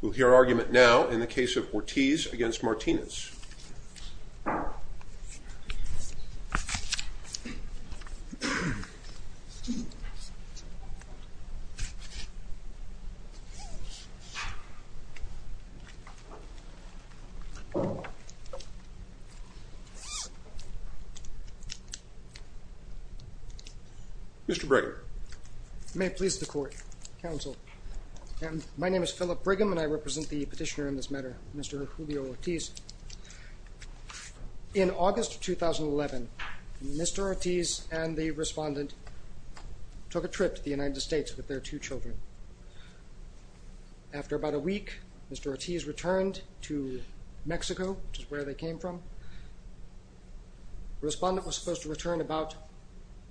We'll hear argument now in the case of Ortiz against Martinez Mr. Brigham. May it please the court, counsel. My name is Philip Brigham and I represent the petitioner in this matter, Mr. Julio Ortiz. In August 2011, Mr. Ortiz and the respondent took a trip to the United States with their two children. After about a week, Mr. Ortiz returned to Mexico, which is where they came from. Respondent was supposed to return about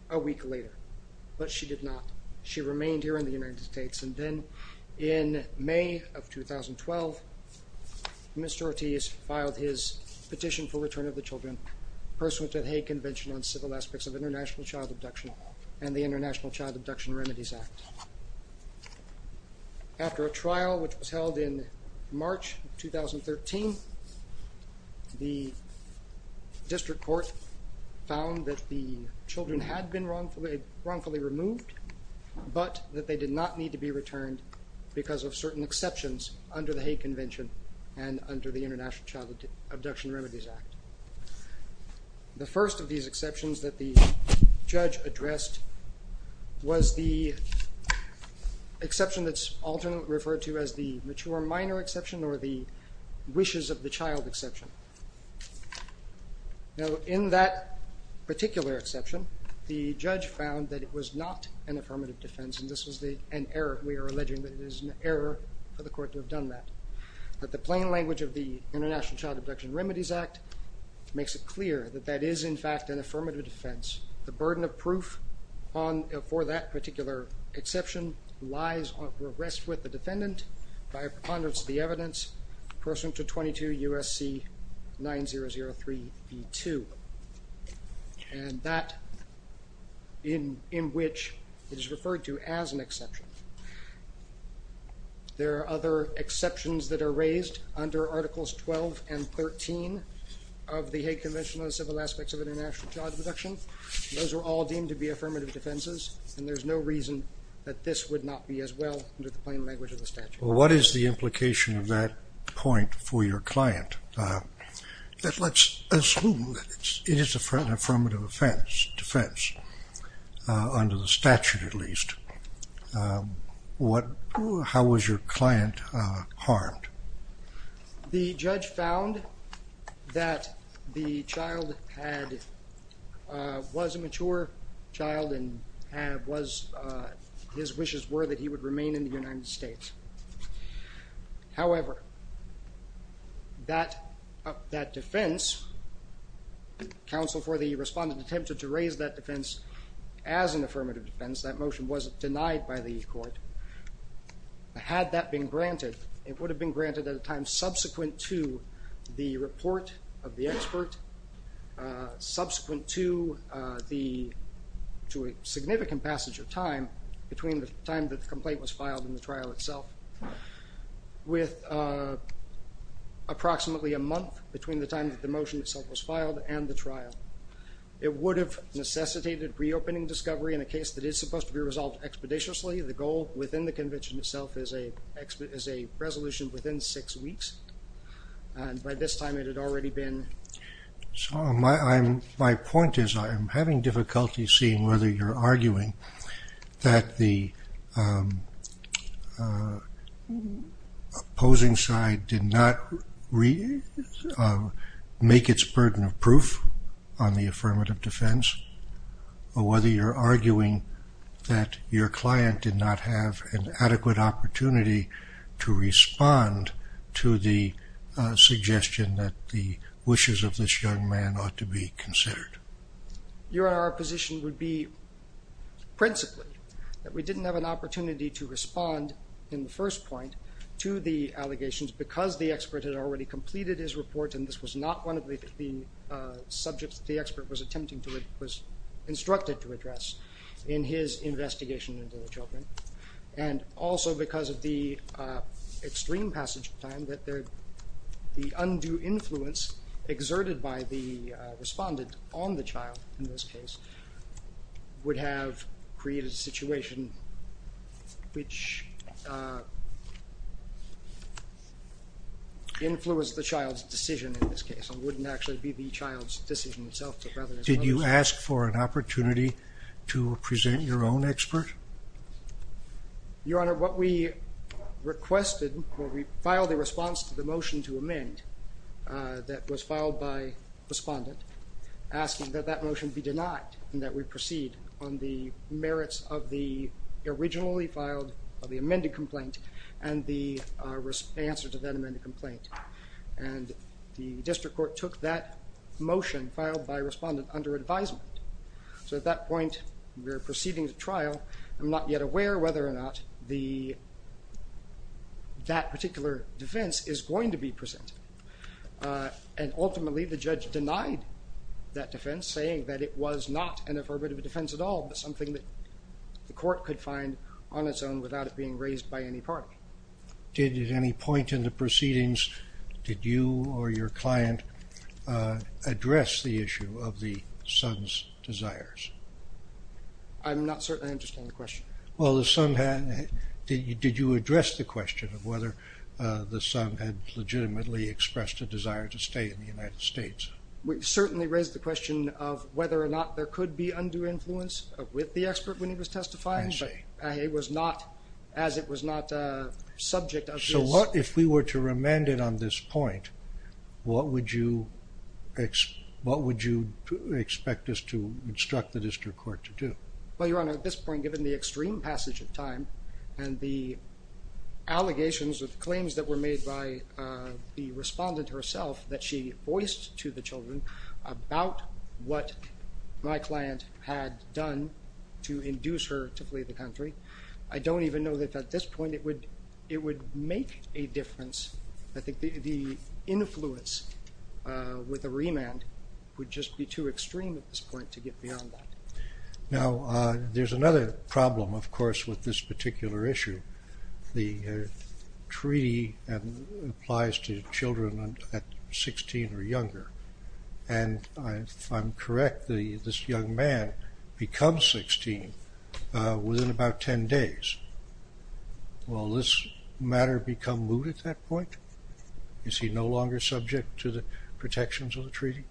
a week later, but she did not. She remained here in the United States and then in May of 2012, Mr. Ortiz filed his petition for return of the children pursuant to the Hague Convention on Civil Aspects of International Child Abduction and the International Child Abduction Remedies Act. After a trial, which was held in March 2013, the district court found that the children had been wrongfully removed, but that they did not need to be exceptions under the Hague Convention and under the International Child Abduction Remedies Act. The first of these exceptions that the judge addressed was the exception that's often referred to as the mature minor exception or the wishes of the child exception. Now in that particular exception, the judge found that it was not an affirmative defense and we are alleging that it is an error for the court to have done that. But the plain language of the International Child Abduction Remedies Act makes it clear that that is in fact an affirmative defense. The burden of proof for that particular exception lies or rests with the defendant by a preponderance of the evidence pursuant to 22 U.S.C. 9003b2. And that in which it is referred to as an exception. There are other exceptions that are raised under Articles 12 and 13 of the Hague Convention on the Civil Aspects of International Child Abduction. Those are all deemed to be affirmative defenses and there's no reason that this would not be as well under the plain language of the statute. What is the implication of that point for your client? Let's assume that it is an affirmative offense, defense, under the statute at least. How was your client harmed? The judge found that the child was a mature child and his wishes were that he would remain in the United States. However, that defense, counsel for the respondent attempted to raise that defense as an affirmative defense, that motion was denied by the court. Had that been granted, it would have been granted at a time subsequent to the report of the expert, subsequent to a significant passage of time between the time that the complaint was filed and the trial itself, with approximately a month between the time that the motion itself was filed and the trial. It would have necessitated reopening discovery in a case that is supposed to be resolved expeditiously. The goal within the convention itself is a resolution within six weeks and by this time it had already been. My point is I'm having difficulty seeing whether you're arguing that the opposing side did not make its burden of proof on the affirmative defense or whether you're arguing that your client did not have an adequate opportunity to respond to the suggestion that the wishes of this young man ought to be considered. Your position would be principally that we didn't have an opportunity to respond in the first point to the allegations because the expert had already completed his report and this was not one of the subjects the expert was attempting to it was instructed to address in his investigation into the children and also because of the extreme passage of time that the undue influence exerted by the respondent on the child in this case would have created a situation which influenced the child's decision in this case and wouldn't actually be the child's decision itself. Did you ask for an opportunity to present your own expert? Your Honor what we requested when we filed a response to the motion to amend that was filed by respondent asking that that motion be denied and that we proceed on the merits of the originally filed of the amended complaint and the answer to that amended complaint and the district court took that motion filed by respondent under advisement so at that point we're proceeding to trial I'm not yet aware whether or not the that particular defense is going to be presented and ultimately the judge denied that defense saying that it was not an affirmative defense at all but something that the court could find on its own without it being raised by any party. Did at any point in the proceedings did you or your client address the issue of the son's desires? I'm not certain I understand the question. Well the son had, did you address the question of whether the son had legitimately expressed a desire to stay in the United States? We certainly raised the question of whether or not there could be undue influence with the expert when he was testifying but it was not as it was not a subject of this. So what if we were to remand it on this point what would you what would you expect us to instruct the district court to do? Well your honor at this point given the extreme passage of time and the allegations of claims that were made by the respondent herself that she voiced to the children about what my client had done to induce her to flee the country I don't even know that at this point it would it would make a difference I think the influence with a remand would just be too extreme at this point to get beyond that. Now there's another problem of course with this particular issue the treaty applies to children at 16 or younger and I'm correct this young man becomes 16 within about 10 days. Will this matter become moot at that point? Is he no longer subject to the protections of the treaty?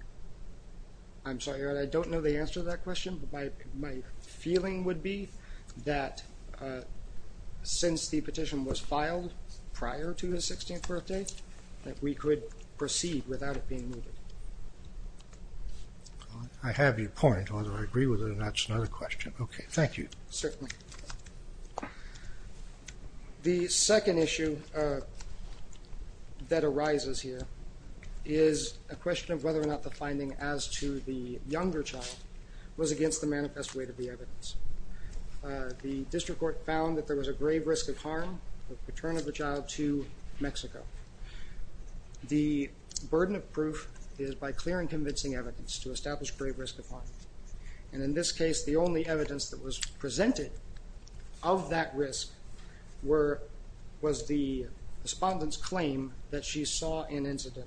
I'm sorry your honor I don't know the answer to that question but my feeling would be that since the petition was filed prior to his 16th birthday that we could proceed without it being mooted. I have your point whether I agree with it or not is another question. Okay thank you. Certainly. The second issue that arises here is a question of whether or not the finding as to the younger child was against the manifest way to be evidence. The district court found that there was a grave risk of harm of return of the child to Mexico. The burden of proof is by clearing convincing evidence to establish grave risk of return. In this case the only evidence that was presented of that risk was the respondent's claim that she saw an incident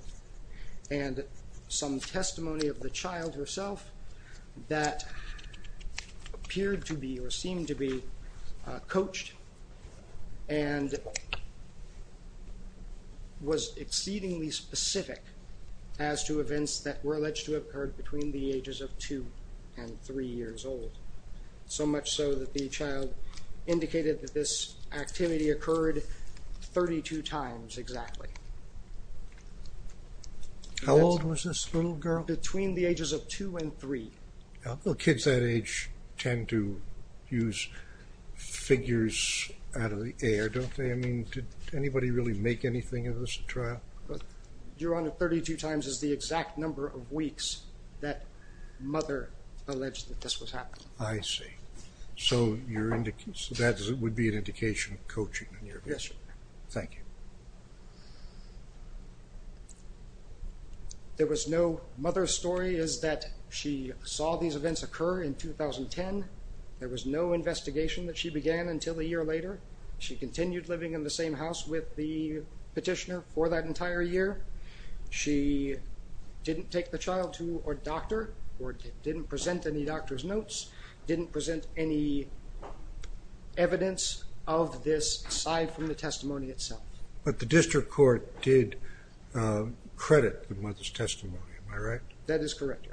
and some testimony of the child herself that appeared to be or seemed to be coached and was exceedingly specific as to events that were alleged to have occurred between the years old. So much so that the child indicated that this activity occurred 32 times exactly. How old was this little girl? Between the ages of two and three. Kids that age tend to use figures out of the air don't they? I mean did anybody really make anything of this trial? Your honor 32 times is the exact number of weeks that mother alleged that this was happening. I see. So that would be an indication of coaching. Yes sir. Thank you. There was no mother's story is that she saw these events occur in 2010. There was no investigation that she began until a year later. She continued living in the same house with the petitioner for that entire year. She didn't take the child to a doctor or didn't present any doctor's notes, didn't present any evidence of this aside from the testimony itself. But the district court did credit the mother's testimony, am I right? That is correct.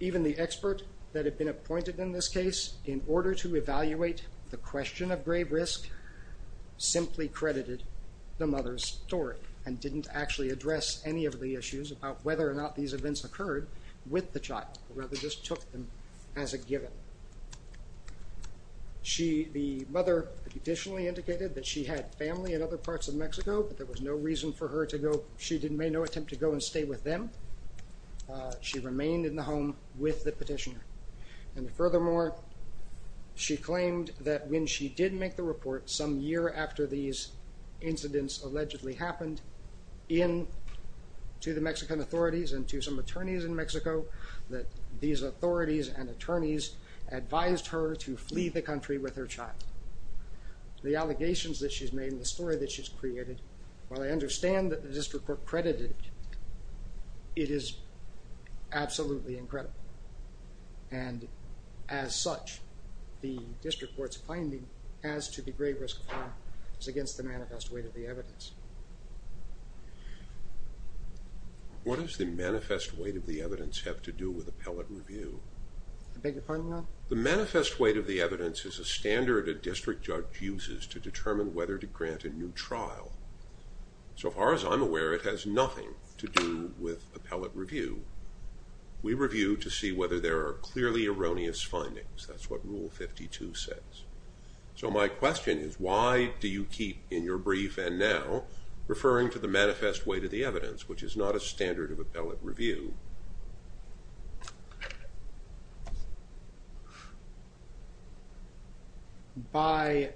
Even the expert that had been appointed in this case in order to evaluate the question of grave risk simply credited the mother's story and didn't actually address any of the issues about whether or not these events occurred with the child. Rather just took them as a given. The mother additionally indicated that she had family in other parts of Mexico but there was no reason for her to go. She didn't make no attempt to go and stay with them. She remained in the home with the petitioner and furthermore she claimed that when she did make the report some year after these incidents allegedly happened in to the Mexican authorities and to some attorneys in Mexico that these authorities and attorneys advised her to flee the country with her child. The allegations that she's made in the story that she's created while I understand that the district court credited it is absolutely incredible and as such the district court's finding as to the grave risk of harm is against the manifest weight of the evidence. What does the manifest weight of the evidence have to do with appellate review? The manifest weight of the evidence is a standard a district judge uses to determine whether to grant a new trial. So far as I'm aware it has nothing to do with appellate review. We review to see whether there are clearly erroneous findings that's what rule 52 says. So my question is why do you keep in your brief and now referring to the manifest weight of the evidence which is not a standard of appellate review? By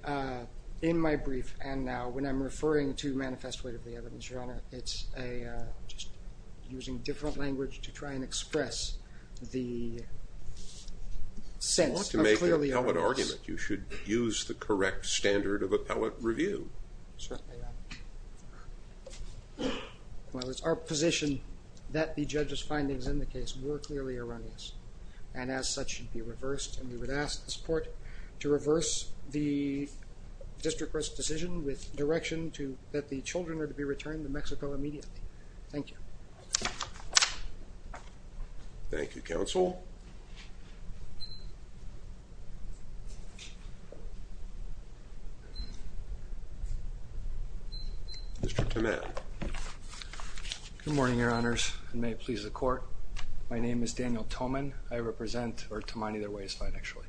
in my brief and now when I'm referring to manifest weight of the evidence your honor it's a just using different language to try and express the sense of clearly erroneous. You want to make an appellate argument you should use the correct standard of appellate review. Well it's our position that the judge's findings in the case were clearly erroneous and as such should be reversed and we would ask the support to reverse the district court's decision with direction to that the children are to be Mr. Toman. Good morning your honors and may it please the court my name is Daniel Toman I represent or Toman either way is fine actually.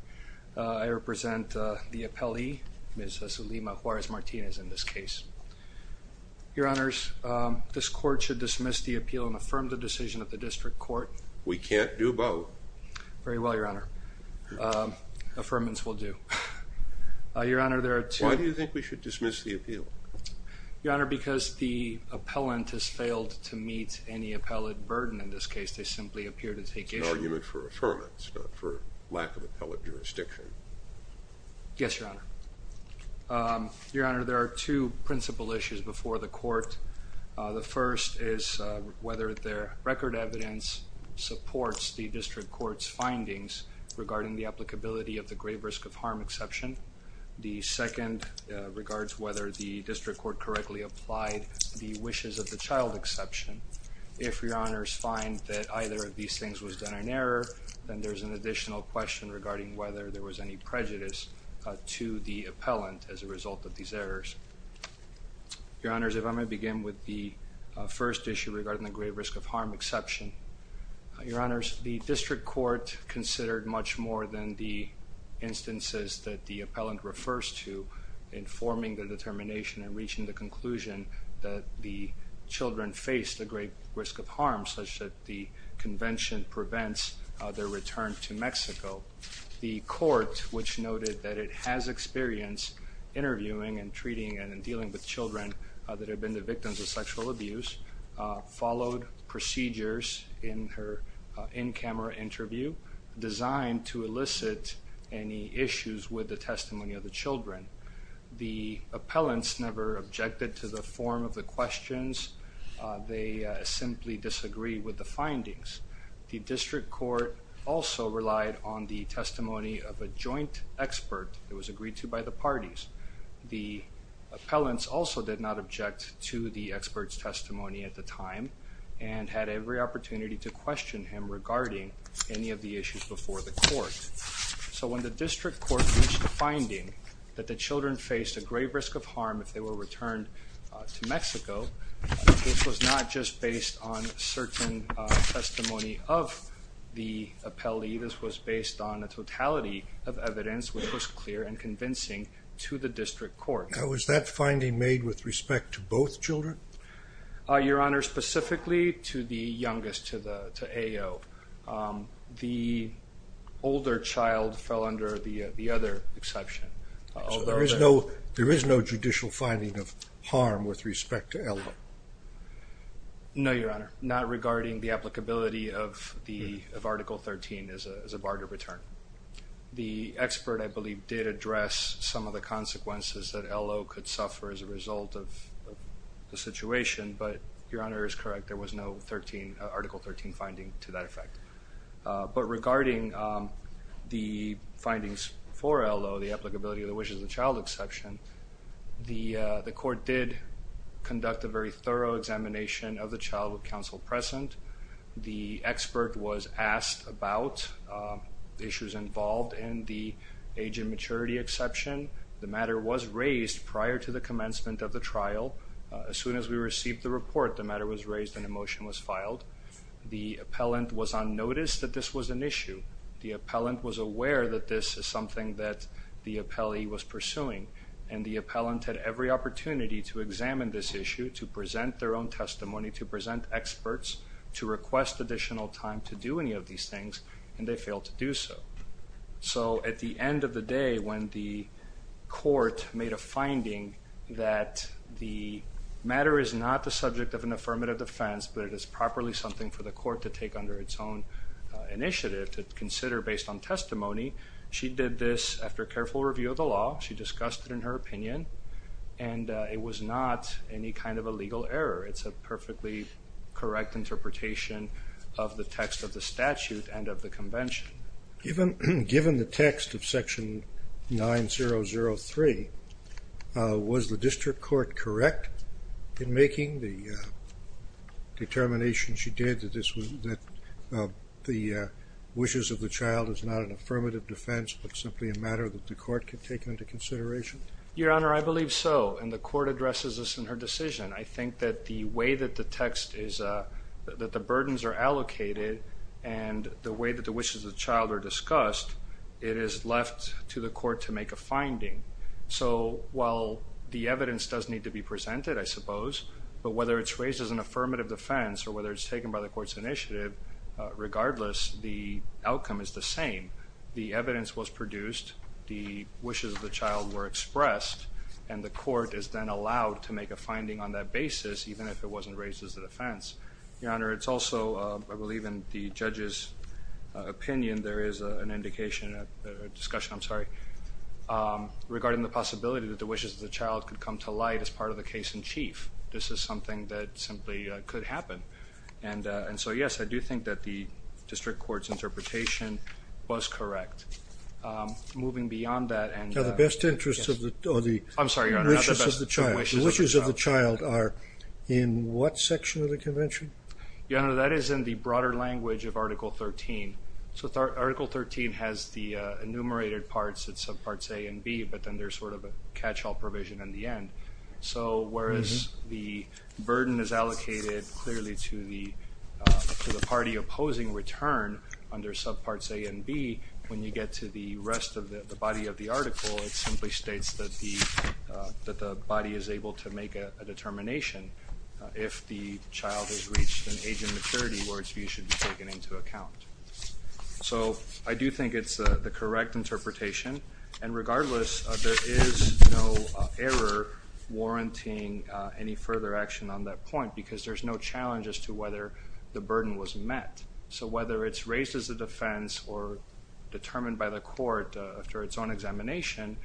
I represent the appellee Ms. Zulima Juarez Martinez in this case. Your honors this court should dismiss the appeal and affirm the decision of the district court. We can't do both. Very well your honor. Affirmance will do. Your honor there are two. Why do you think we should dismiss the appeal? Your honor because the appellant has failed to meet any appellate burden in this case they simply appear to take it. It's an argument for affirmance not for lack of appellate jurisdiction. Yes your honor. Your honor there are two principal issues before the court. The first is whether their record evidence supports the district court's findings regarding the applicability of the grave risk of harm exception. The second regards whether the district court correctly applied the wishes of the child exception. If your honors find that either of these things was done in error then there's an additional question regarding whether there was any prejudice to the appellant as a regarding the grave risk of harm exception. Your honors the district court considered much more than the instances that the appellant refers to in forming the determination and reaching the conclusion that the children faced a great risk of harm such that the convention prevents their return to Mexico. The court which noted that it has experience interviewing and treating and dealing with children that have been the victims of sexual abuse followed procedures in her in-camera interview designed to elicit any issues with the testimony of the children. The appellants never objected to the form of the questions. They simply disagree with the findings. The district court also relied on the testimony of a joint expert that was agreed to by the parties. The appellants also did not object to the experts testimony at the time and had every opportunity to question him regarding any of the issues before the court. So when the district court reached the finding that the children faced a grave risk of harm if they were returned to Mexico this was not just based on certain testimony of the appellee this was based on a totality of evidence which was clear and convincing to the district court. Now was that finding made with respect to both children? Your honor specifically to the youngest to the AO the older child fell under the the other exception. There is no there is no judicial finding of harm with respect to LO? No your honor not regarding the applicability of the of article 13 as a barter return. The expert I believe did address some of the consequences that LO could suffer as a result of the situation but your honor is correct there was no 13 article 13 finding to that effect. But regarding the findings for LO the applicability of the wishes of the child exception the the court did conduct a very thorough examination of the child with counsel present. The expert was asked about the issues involved in the age and maturity exception. The matter was raised prior to the commencement of the trial. As soon as we received the report the matter was raised and a motion was filed. The appellant was on notice that this was an issue. The appellant was aware that this is something that the appellee was pursuing and the appellant had every opportunity to examine this issue to present their own testimony to present experts to request additional time to do any of these things and they failed to do so. So at the subject of an affirmative defense but it is properly something for the court to take under its own initiative to consider based on testimony. She did this after careful review of the law. She discussed it in her opinion and it was not any kind of a legal error. It's a perfectly correct interpretation of the text of the statute and of the convention. Given the text of section 9003 was the district court correct in making the determination she did that the wishes of the child is not an affirmative defense but simply a matter that the court can take into consideration? Your Honor, I believe so and the court addresses this in her decision. I think that the way that the text is, that the burdens are allocated and the way that the wishes of the child are discussed it is left to the court to make a finding. So while the evidence does need to be presented I suppose but whether it's raised as an affirmative defense or whether it's taken by the court's initiative regardless the outcome is the same. The evidence was produced, the wishes of the child were expressed and the court is then allowed to make a finding on that basis even if it wasn't raised as the defense. Your Honor, it's also I believe in the judge's opinion there is an indication, a discussion, I'm sorry, regarding the possibility that the wishes of the child could come to light as part of the case in chief. This is something that simply could happen and and so yes I do think that the district court's interpretation was correct. Moving beyond that and... Now the best interests of the wishes of the child are in what section of the convention? Your Honor, that is in the broader language of Article 13. So Article 13 has the enumerated parts at subparts A and B but then there's sort of a catch-all provision in the end. So whereas the burden is allocated clearly to the party opposing return under subparts A and B when you get to the rest of the body of the article it simply states that the that the body is able to make a determination if the child has reached an age of maturity where its views should be taken into account. So I do think it's the correct interpretation and regardless there is no error warranting any further action on that point because there's no challenge as to whether the burden was met. So whether it's raised as a defense or determined by the court after its own examination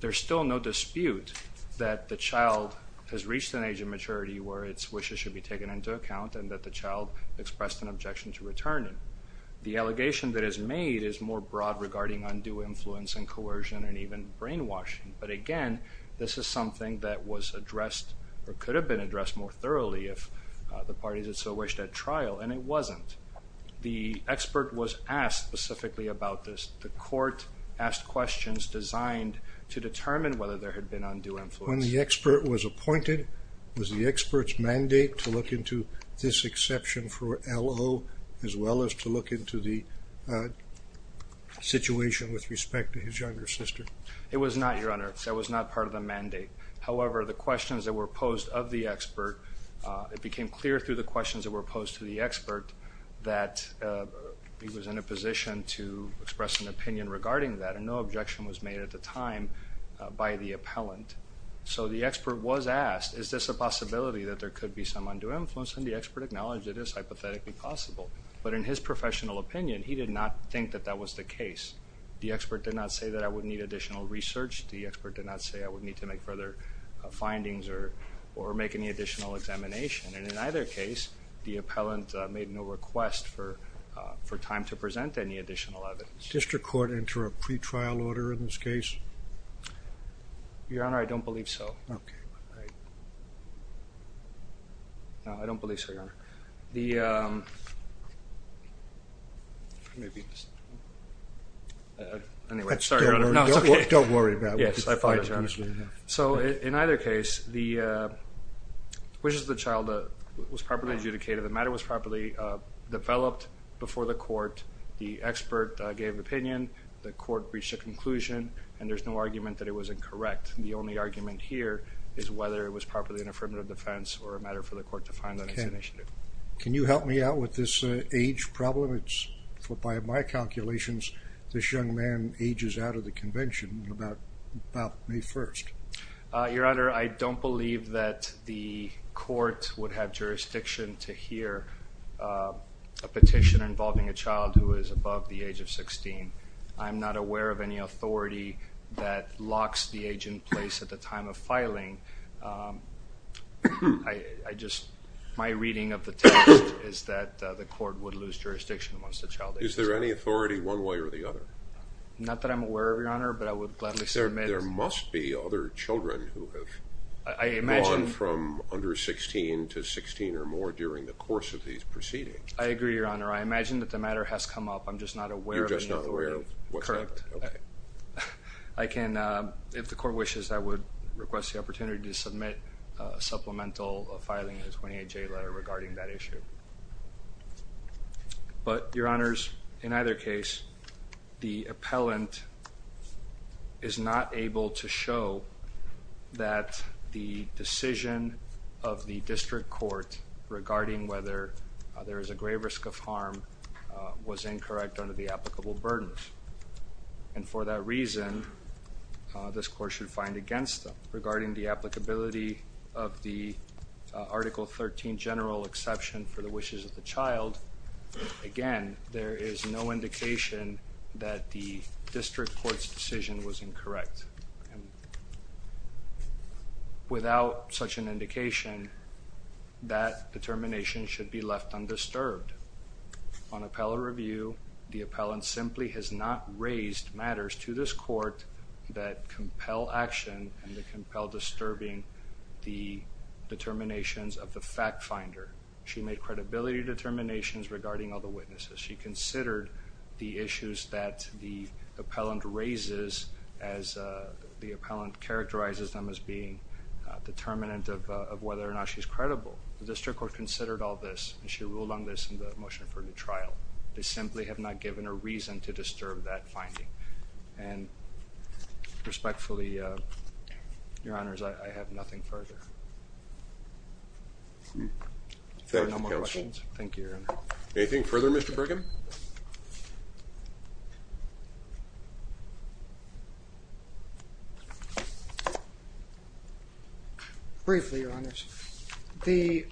there's still no dispute that the child has reached an age of maturity where its wishes should be taken into account and that the child expressed an objection to returning. The allegation that is made is more broad regarding undue influence and coercion and even brainwashing but again this is something that was addressed or could have been addressed more thoroughly if the parties had so wished at trial and it wasn't. The expert was asked specifically about this. The court asked questions designed to determine whether there had been undue influence. When the expert was appointed was the experts mandate to look into this exception for LO as well as to look into the situation with respect to his younger sister? It was not your honor that was not part of the mandate however the questions that were posed of the expert it became clear through the questions that were posed to the expert that he was in a position to express an opinion regarding that and no objection was made at the time by the appellant. So the expert was asked is this a possibility that there could be some undue influence and the expert acknowledged it is hypothetically possible but in his professional opinion he did not think that that was the case. The expert did not say that I would need additional research. The expert did not say I would need to make further findings or or make any additional examination and in either case the appellant made no request for for time to present any additional evidence. Did the district court enter a pretrial order in this case? Your honor I don't believe so. Okay. No I don't believe so your honor. The um, maybe, anyway, sorry. Don't worry about it. Yes I find it, your honor. So in either case the wishes of the child was properly adjudicated. The matter was properly developed before the court. The expert gave opinion. The court reached a conclusion and there's no argument that it was incorrect. The only argument here is whether it was properly an affirmative defense or a matter for the court to find that it's an issue. Can you help me out with this age problem? It's, by my calculations, this young man ages out of the convention. What about May 1st? Your honor, I don't believe that the court would have jurisdiction to hear a petition involving a child who is above the age of 16. I'm not aware of any authority that locks the age in place at the time of filing. I just, my reading of the test is that the court would lose jurisdiction Is there any authority one way or the other? Not that I'm aware of, your honor, but I would gladly submit it. There must be other children who have gone from under 16 to 16 or more during the course of these proceedings. I agree, your honor. I imagine that the matter has come up. I'm just not aware of any authority. You're just not aware of what's happened. Correct. Okay. I can, if the court wishes, I would request the opportunity to submit a supplemental filing of a 28J letter regarding that issue. But, your honors, in either case, the appellant is not able to show that the decision of the district court regarding whether there is a grave risk of harm was incorrect under the applicable burdens. And for that reason, this court should find against them regarding the applicability of the Article 13 general exception for the wishes of the child. Again, there is no indication that the district court's decision was incorrect. Without such an indication, that determination should be left undisturbed. On appellate review, the appellant simply has not raised matters to this court that compel action and that compel disturbing the determinations of the fact finder. She made credibility determinations regarding all the witnesses. She considered the issues that the appellant raises as the appellant characterizes them as being determinant of whether or not she's credible. The district court considered all this and she ruled on this in the motion for the trial. They simply have not given a reason to disturb that finding. And respectfully, your honors, I have nothing further. Thank you, your honor. Anything further, Mr. Brigham? Briefly, your honors. The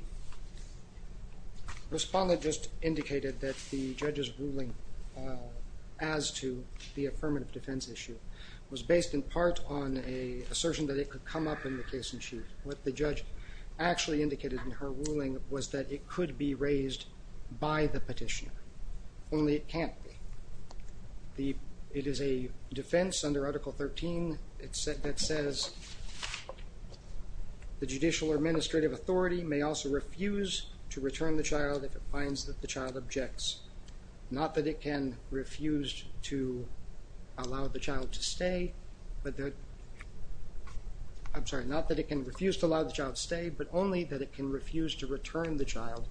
respondent just indicated that the judge's ruling as to the affirmative defense issue was based in part on an assertion that it could come up in the case in chief. What the judge actually indicated in her ruling was that it could be raised by the petitioner. Only it can't be. It is a defense under Article 13 that says the judicial or administrative authority may also refuse to return the child if it finds that the child objects. Not that it can refuse to allow the child to stay, but only that it can refuse to return the child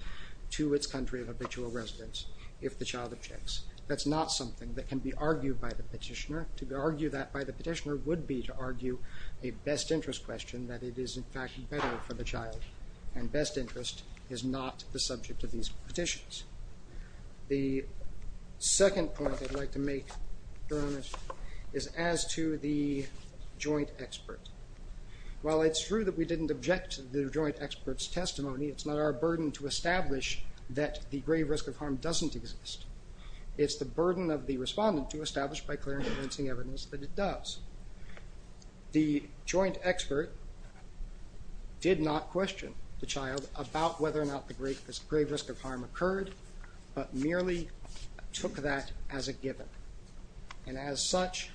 to its country of habitual residence. If the child objects. That's not something that can be argued by the petitioner. To argue that by the petitioner would be to argue a best interest question that it is in fact better for the child. And best interest is not the subject of these petitions. The second point I'd like to make, your honors, is as to the joint expert. While it's true that we didn't object to the joint expert's testimony, it's not our burden to establish that the grave risk of harm doesn't exist. It's the burden of the respondent to establish by clear and convincing evidence that it does. The joint expert did not question the child about whether or not the grave risk of harm occurred, but merely took that as a given. And as such,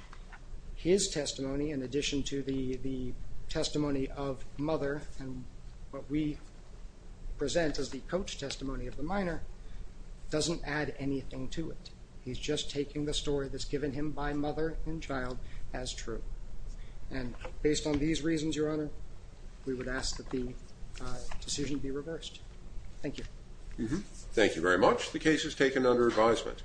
his testimony, in addition to the testimony of mother and what we present as the coach testimony of the minor, doesn't add anything to it. He's just taking the story that's given him by mother and child as true. And based on these reasons, your honor, we would ask that the decision be reversed. Thank you. Thank you very much. The case is taken under advisement.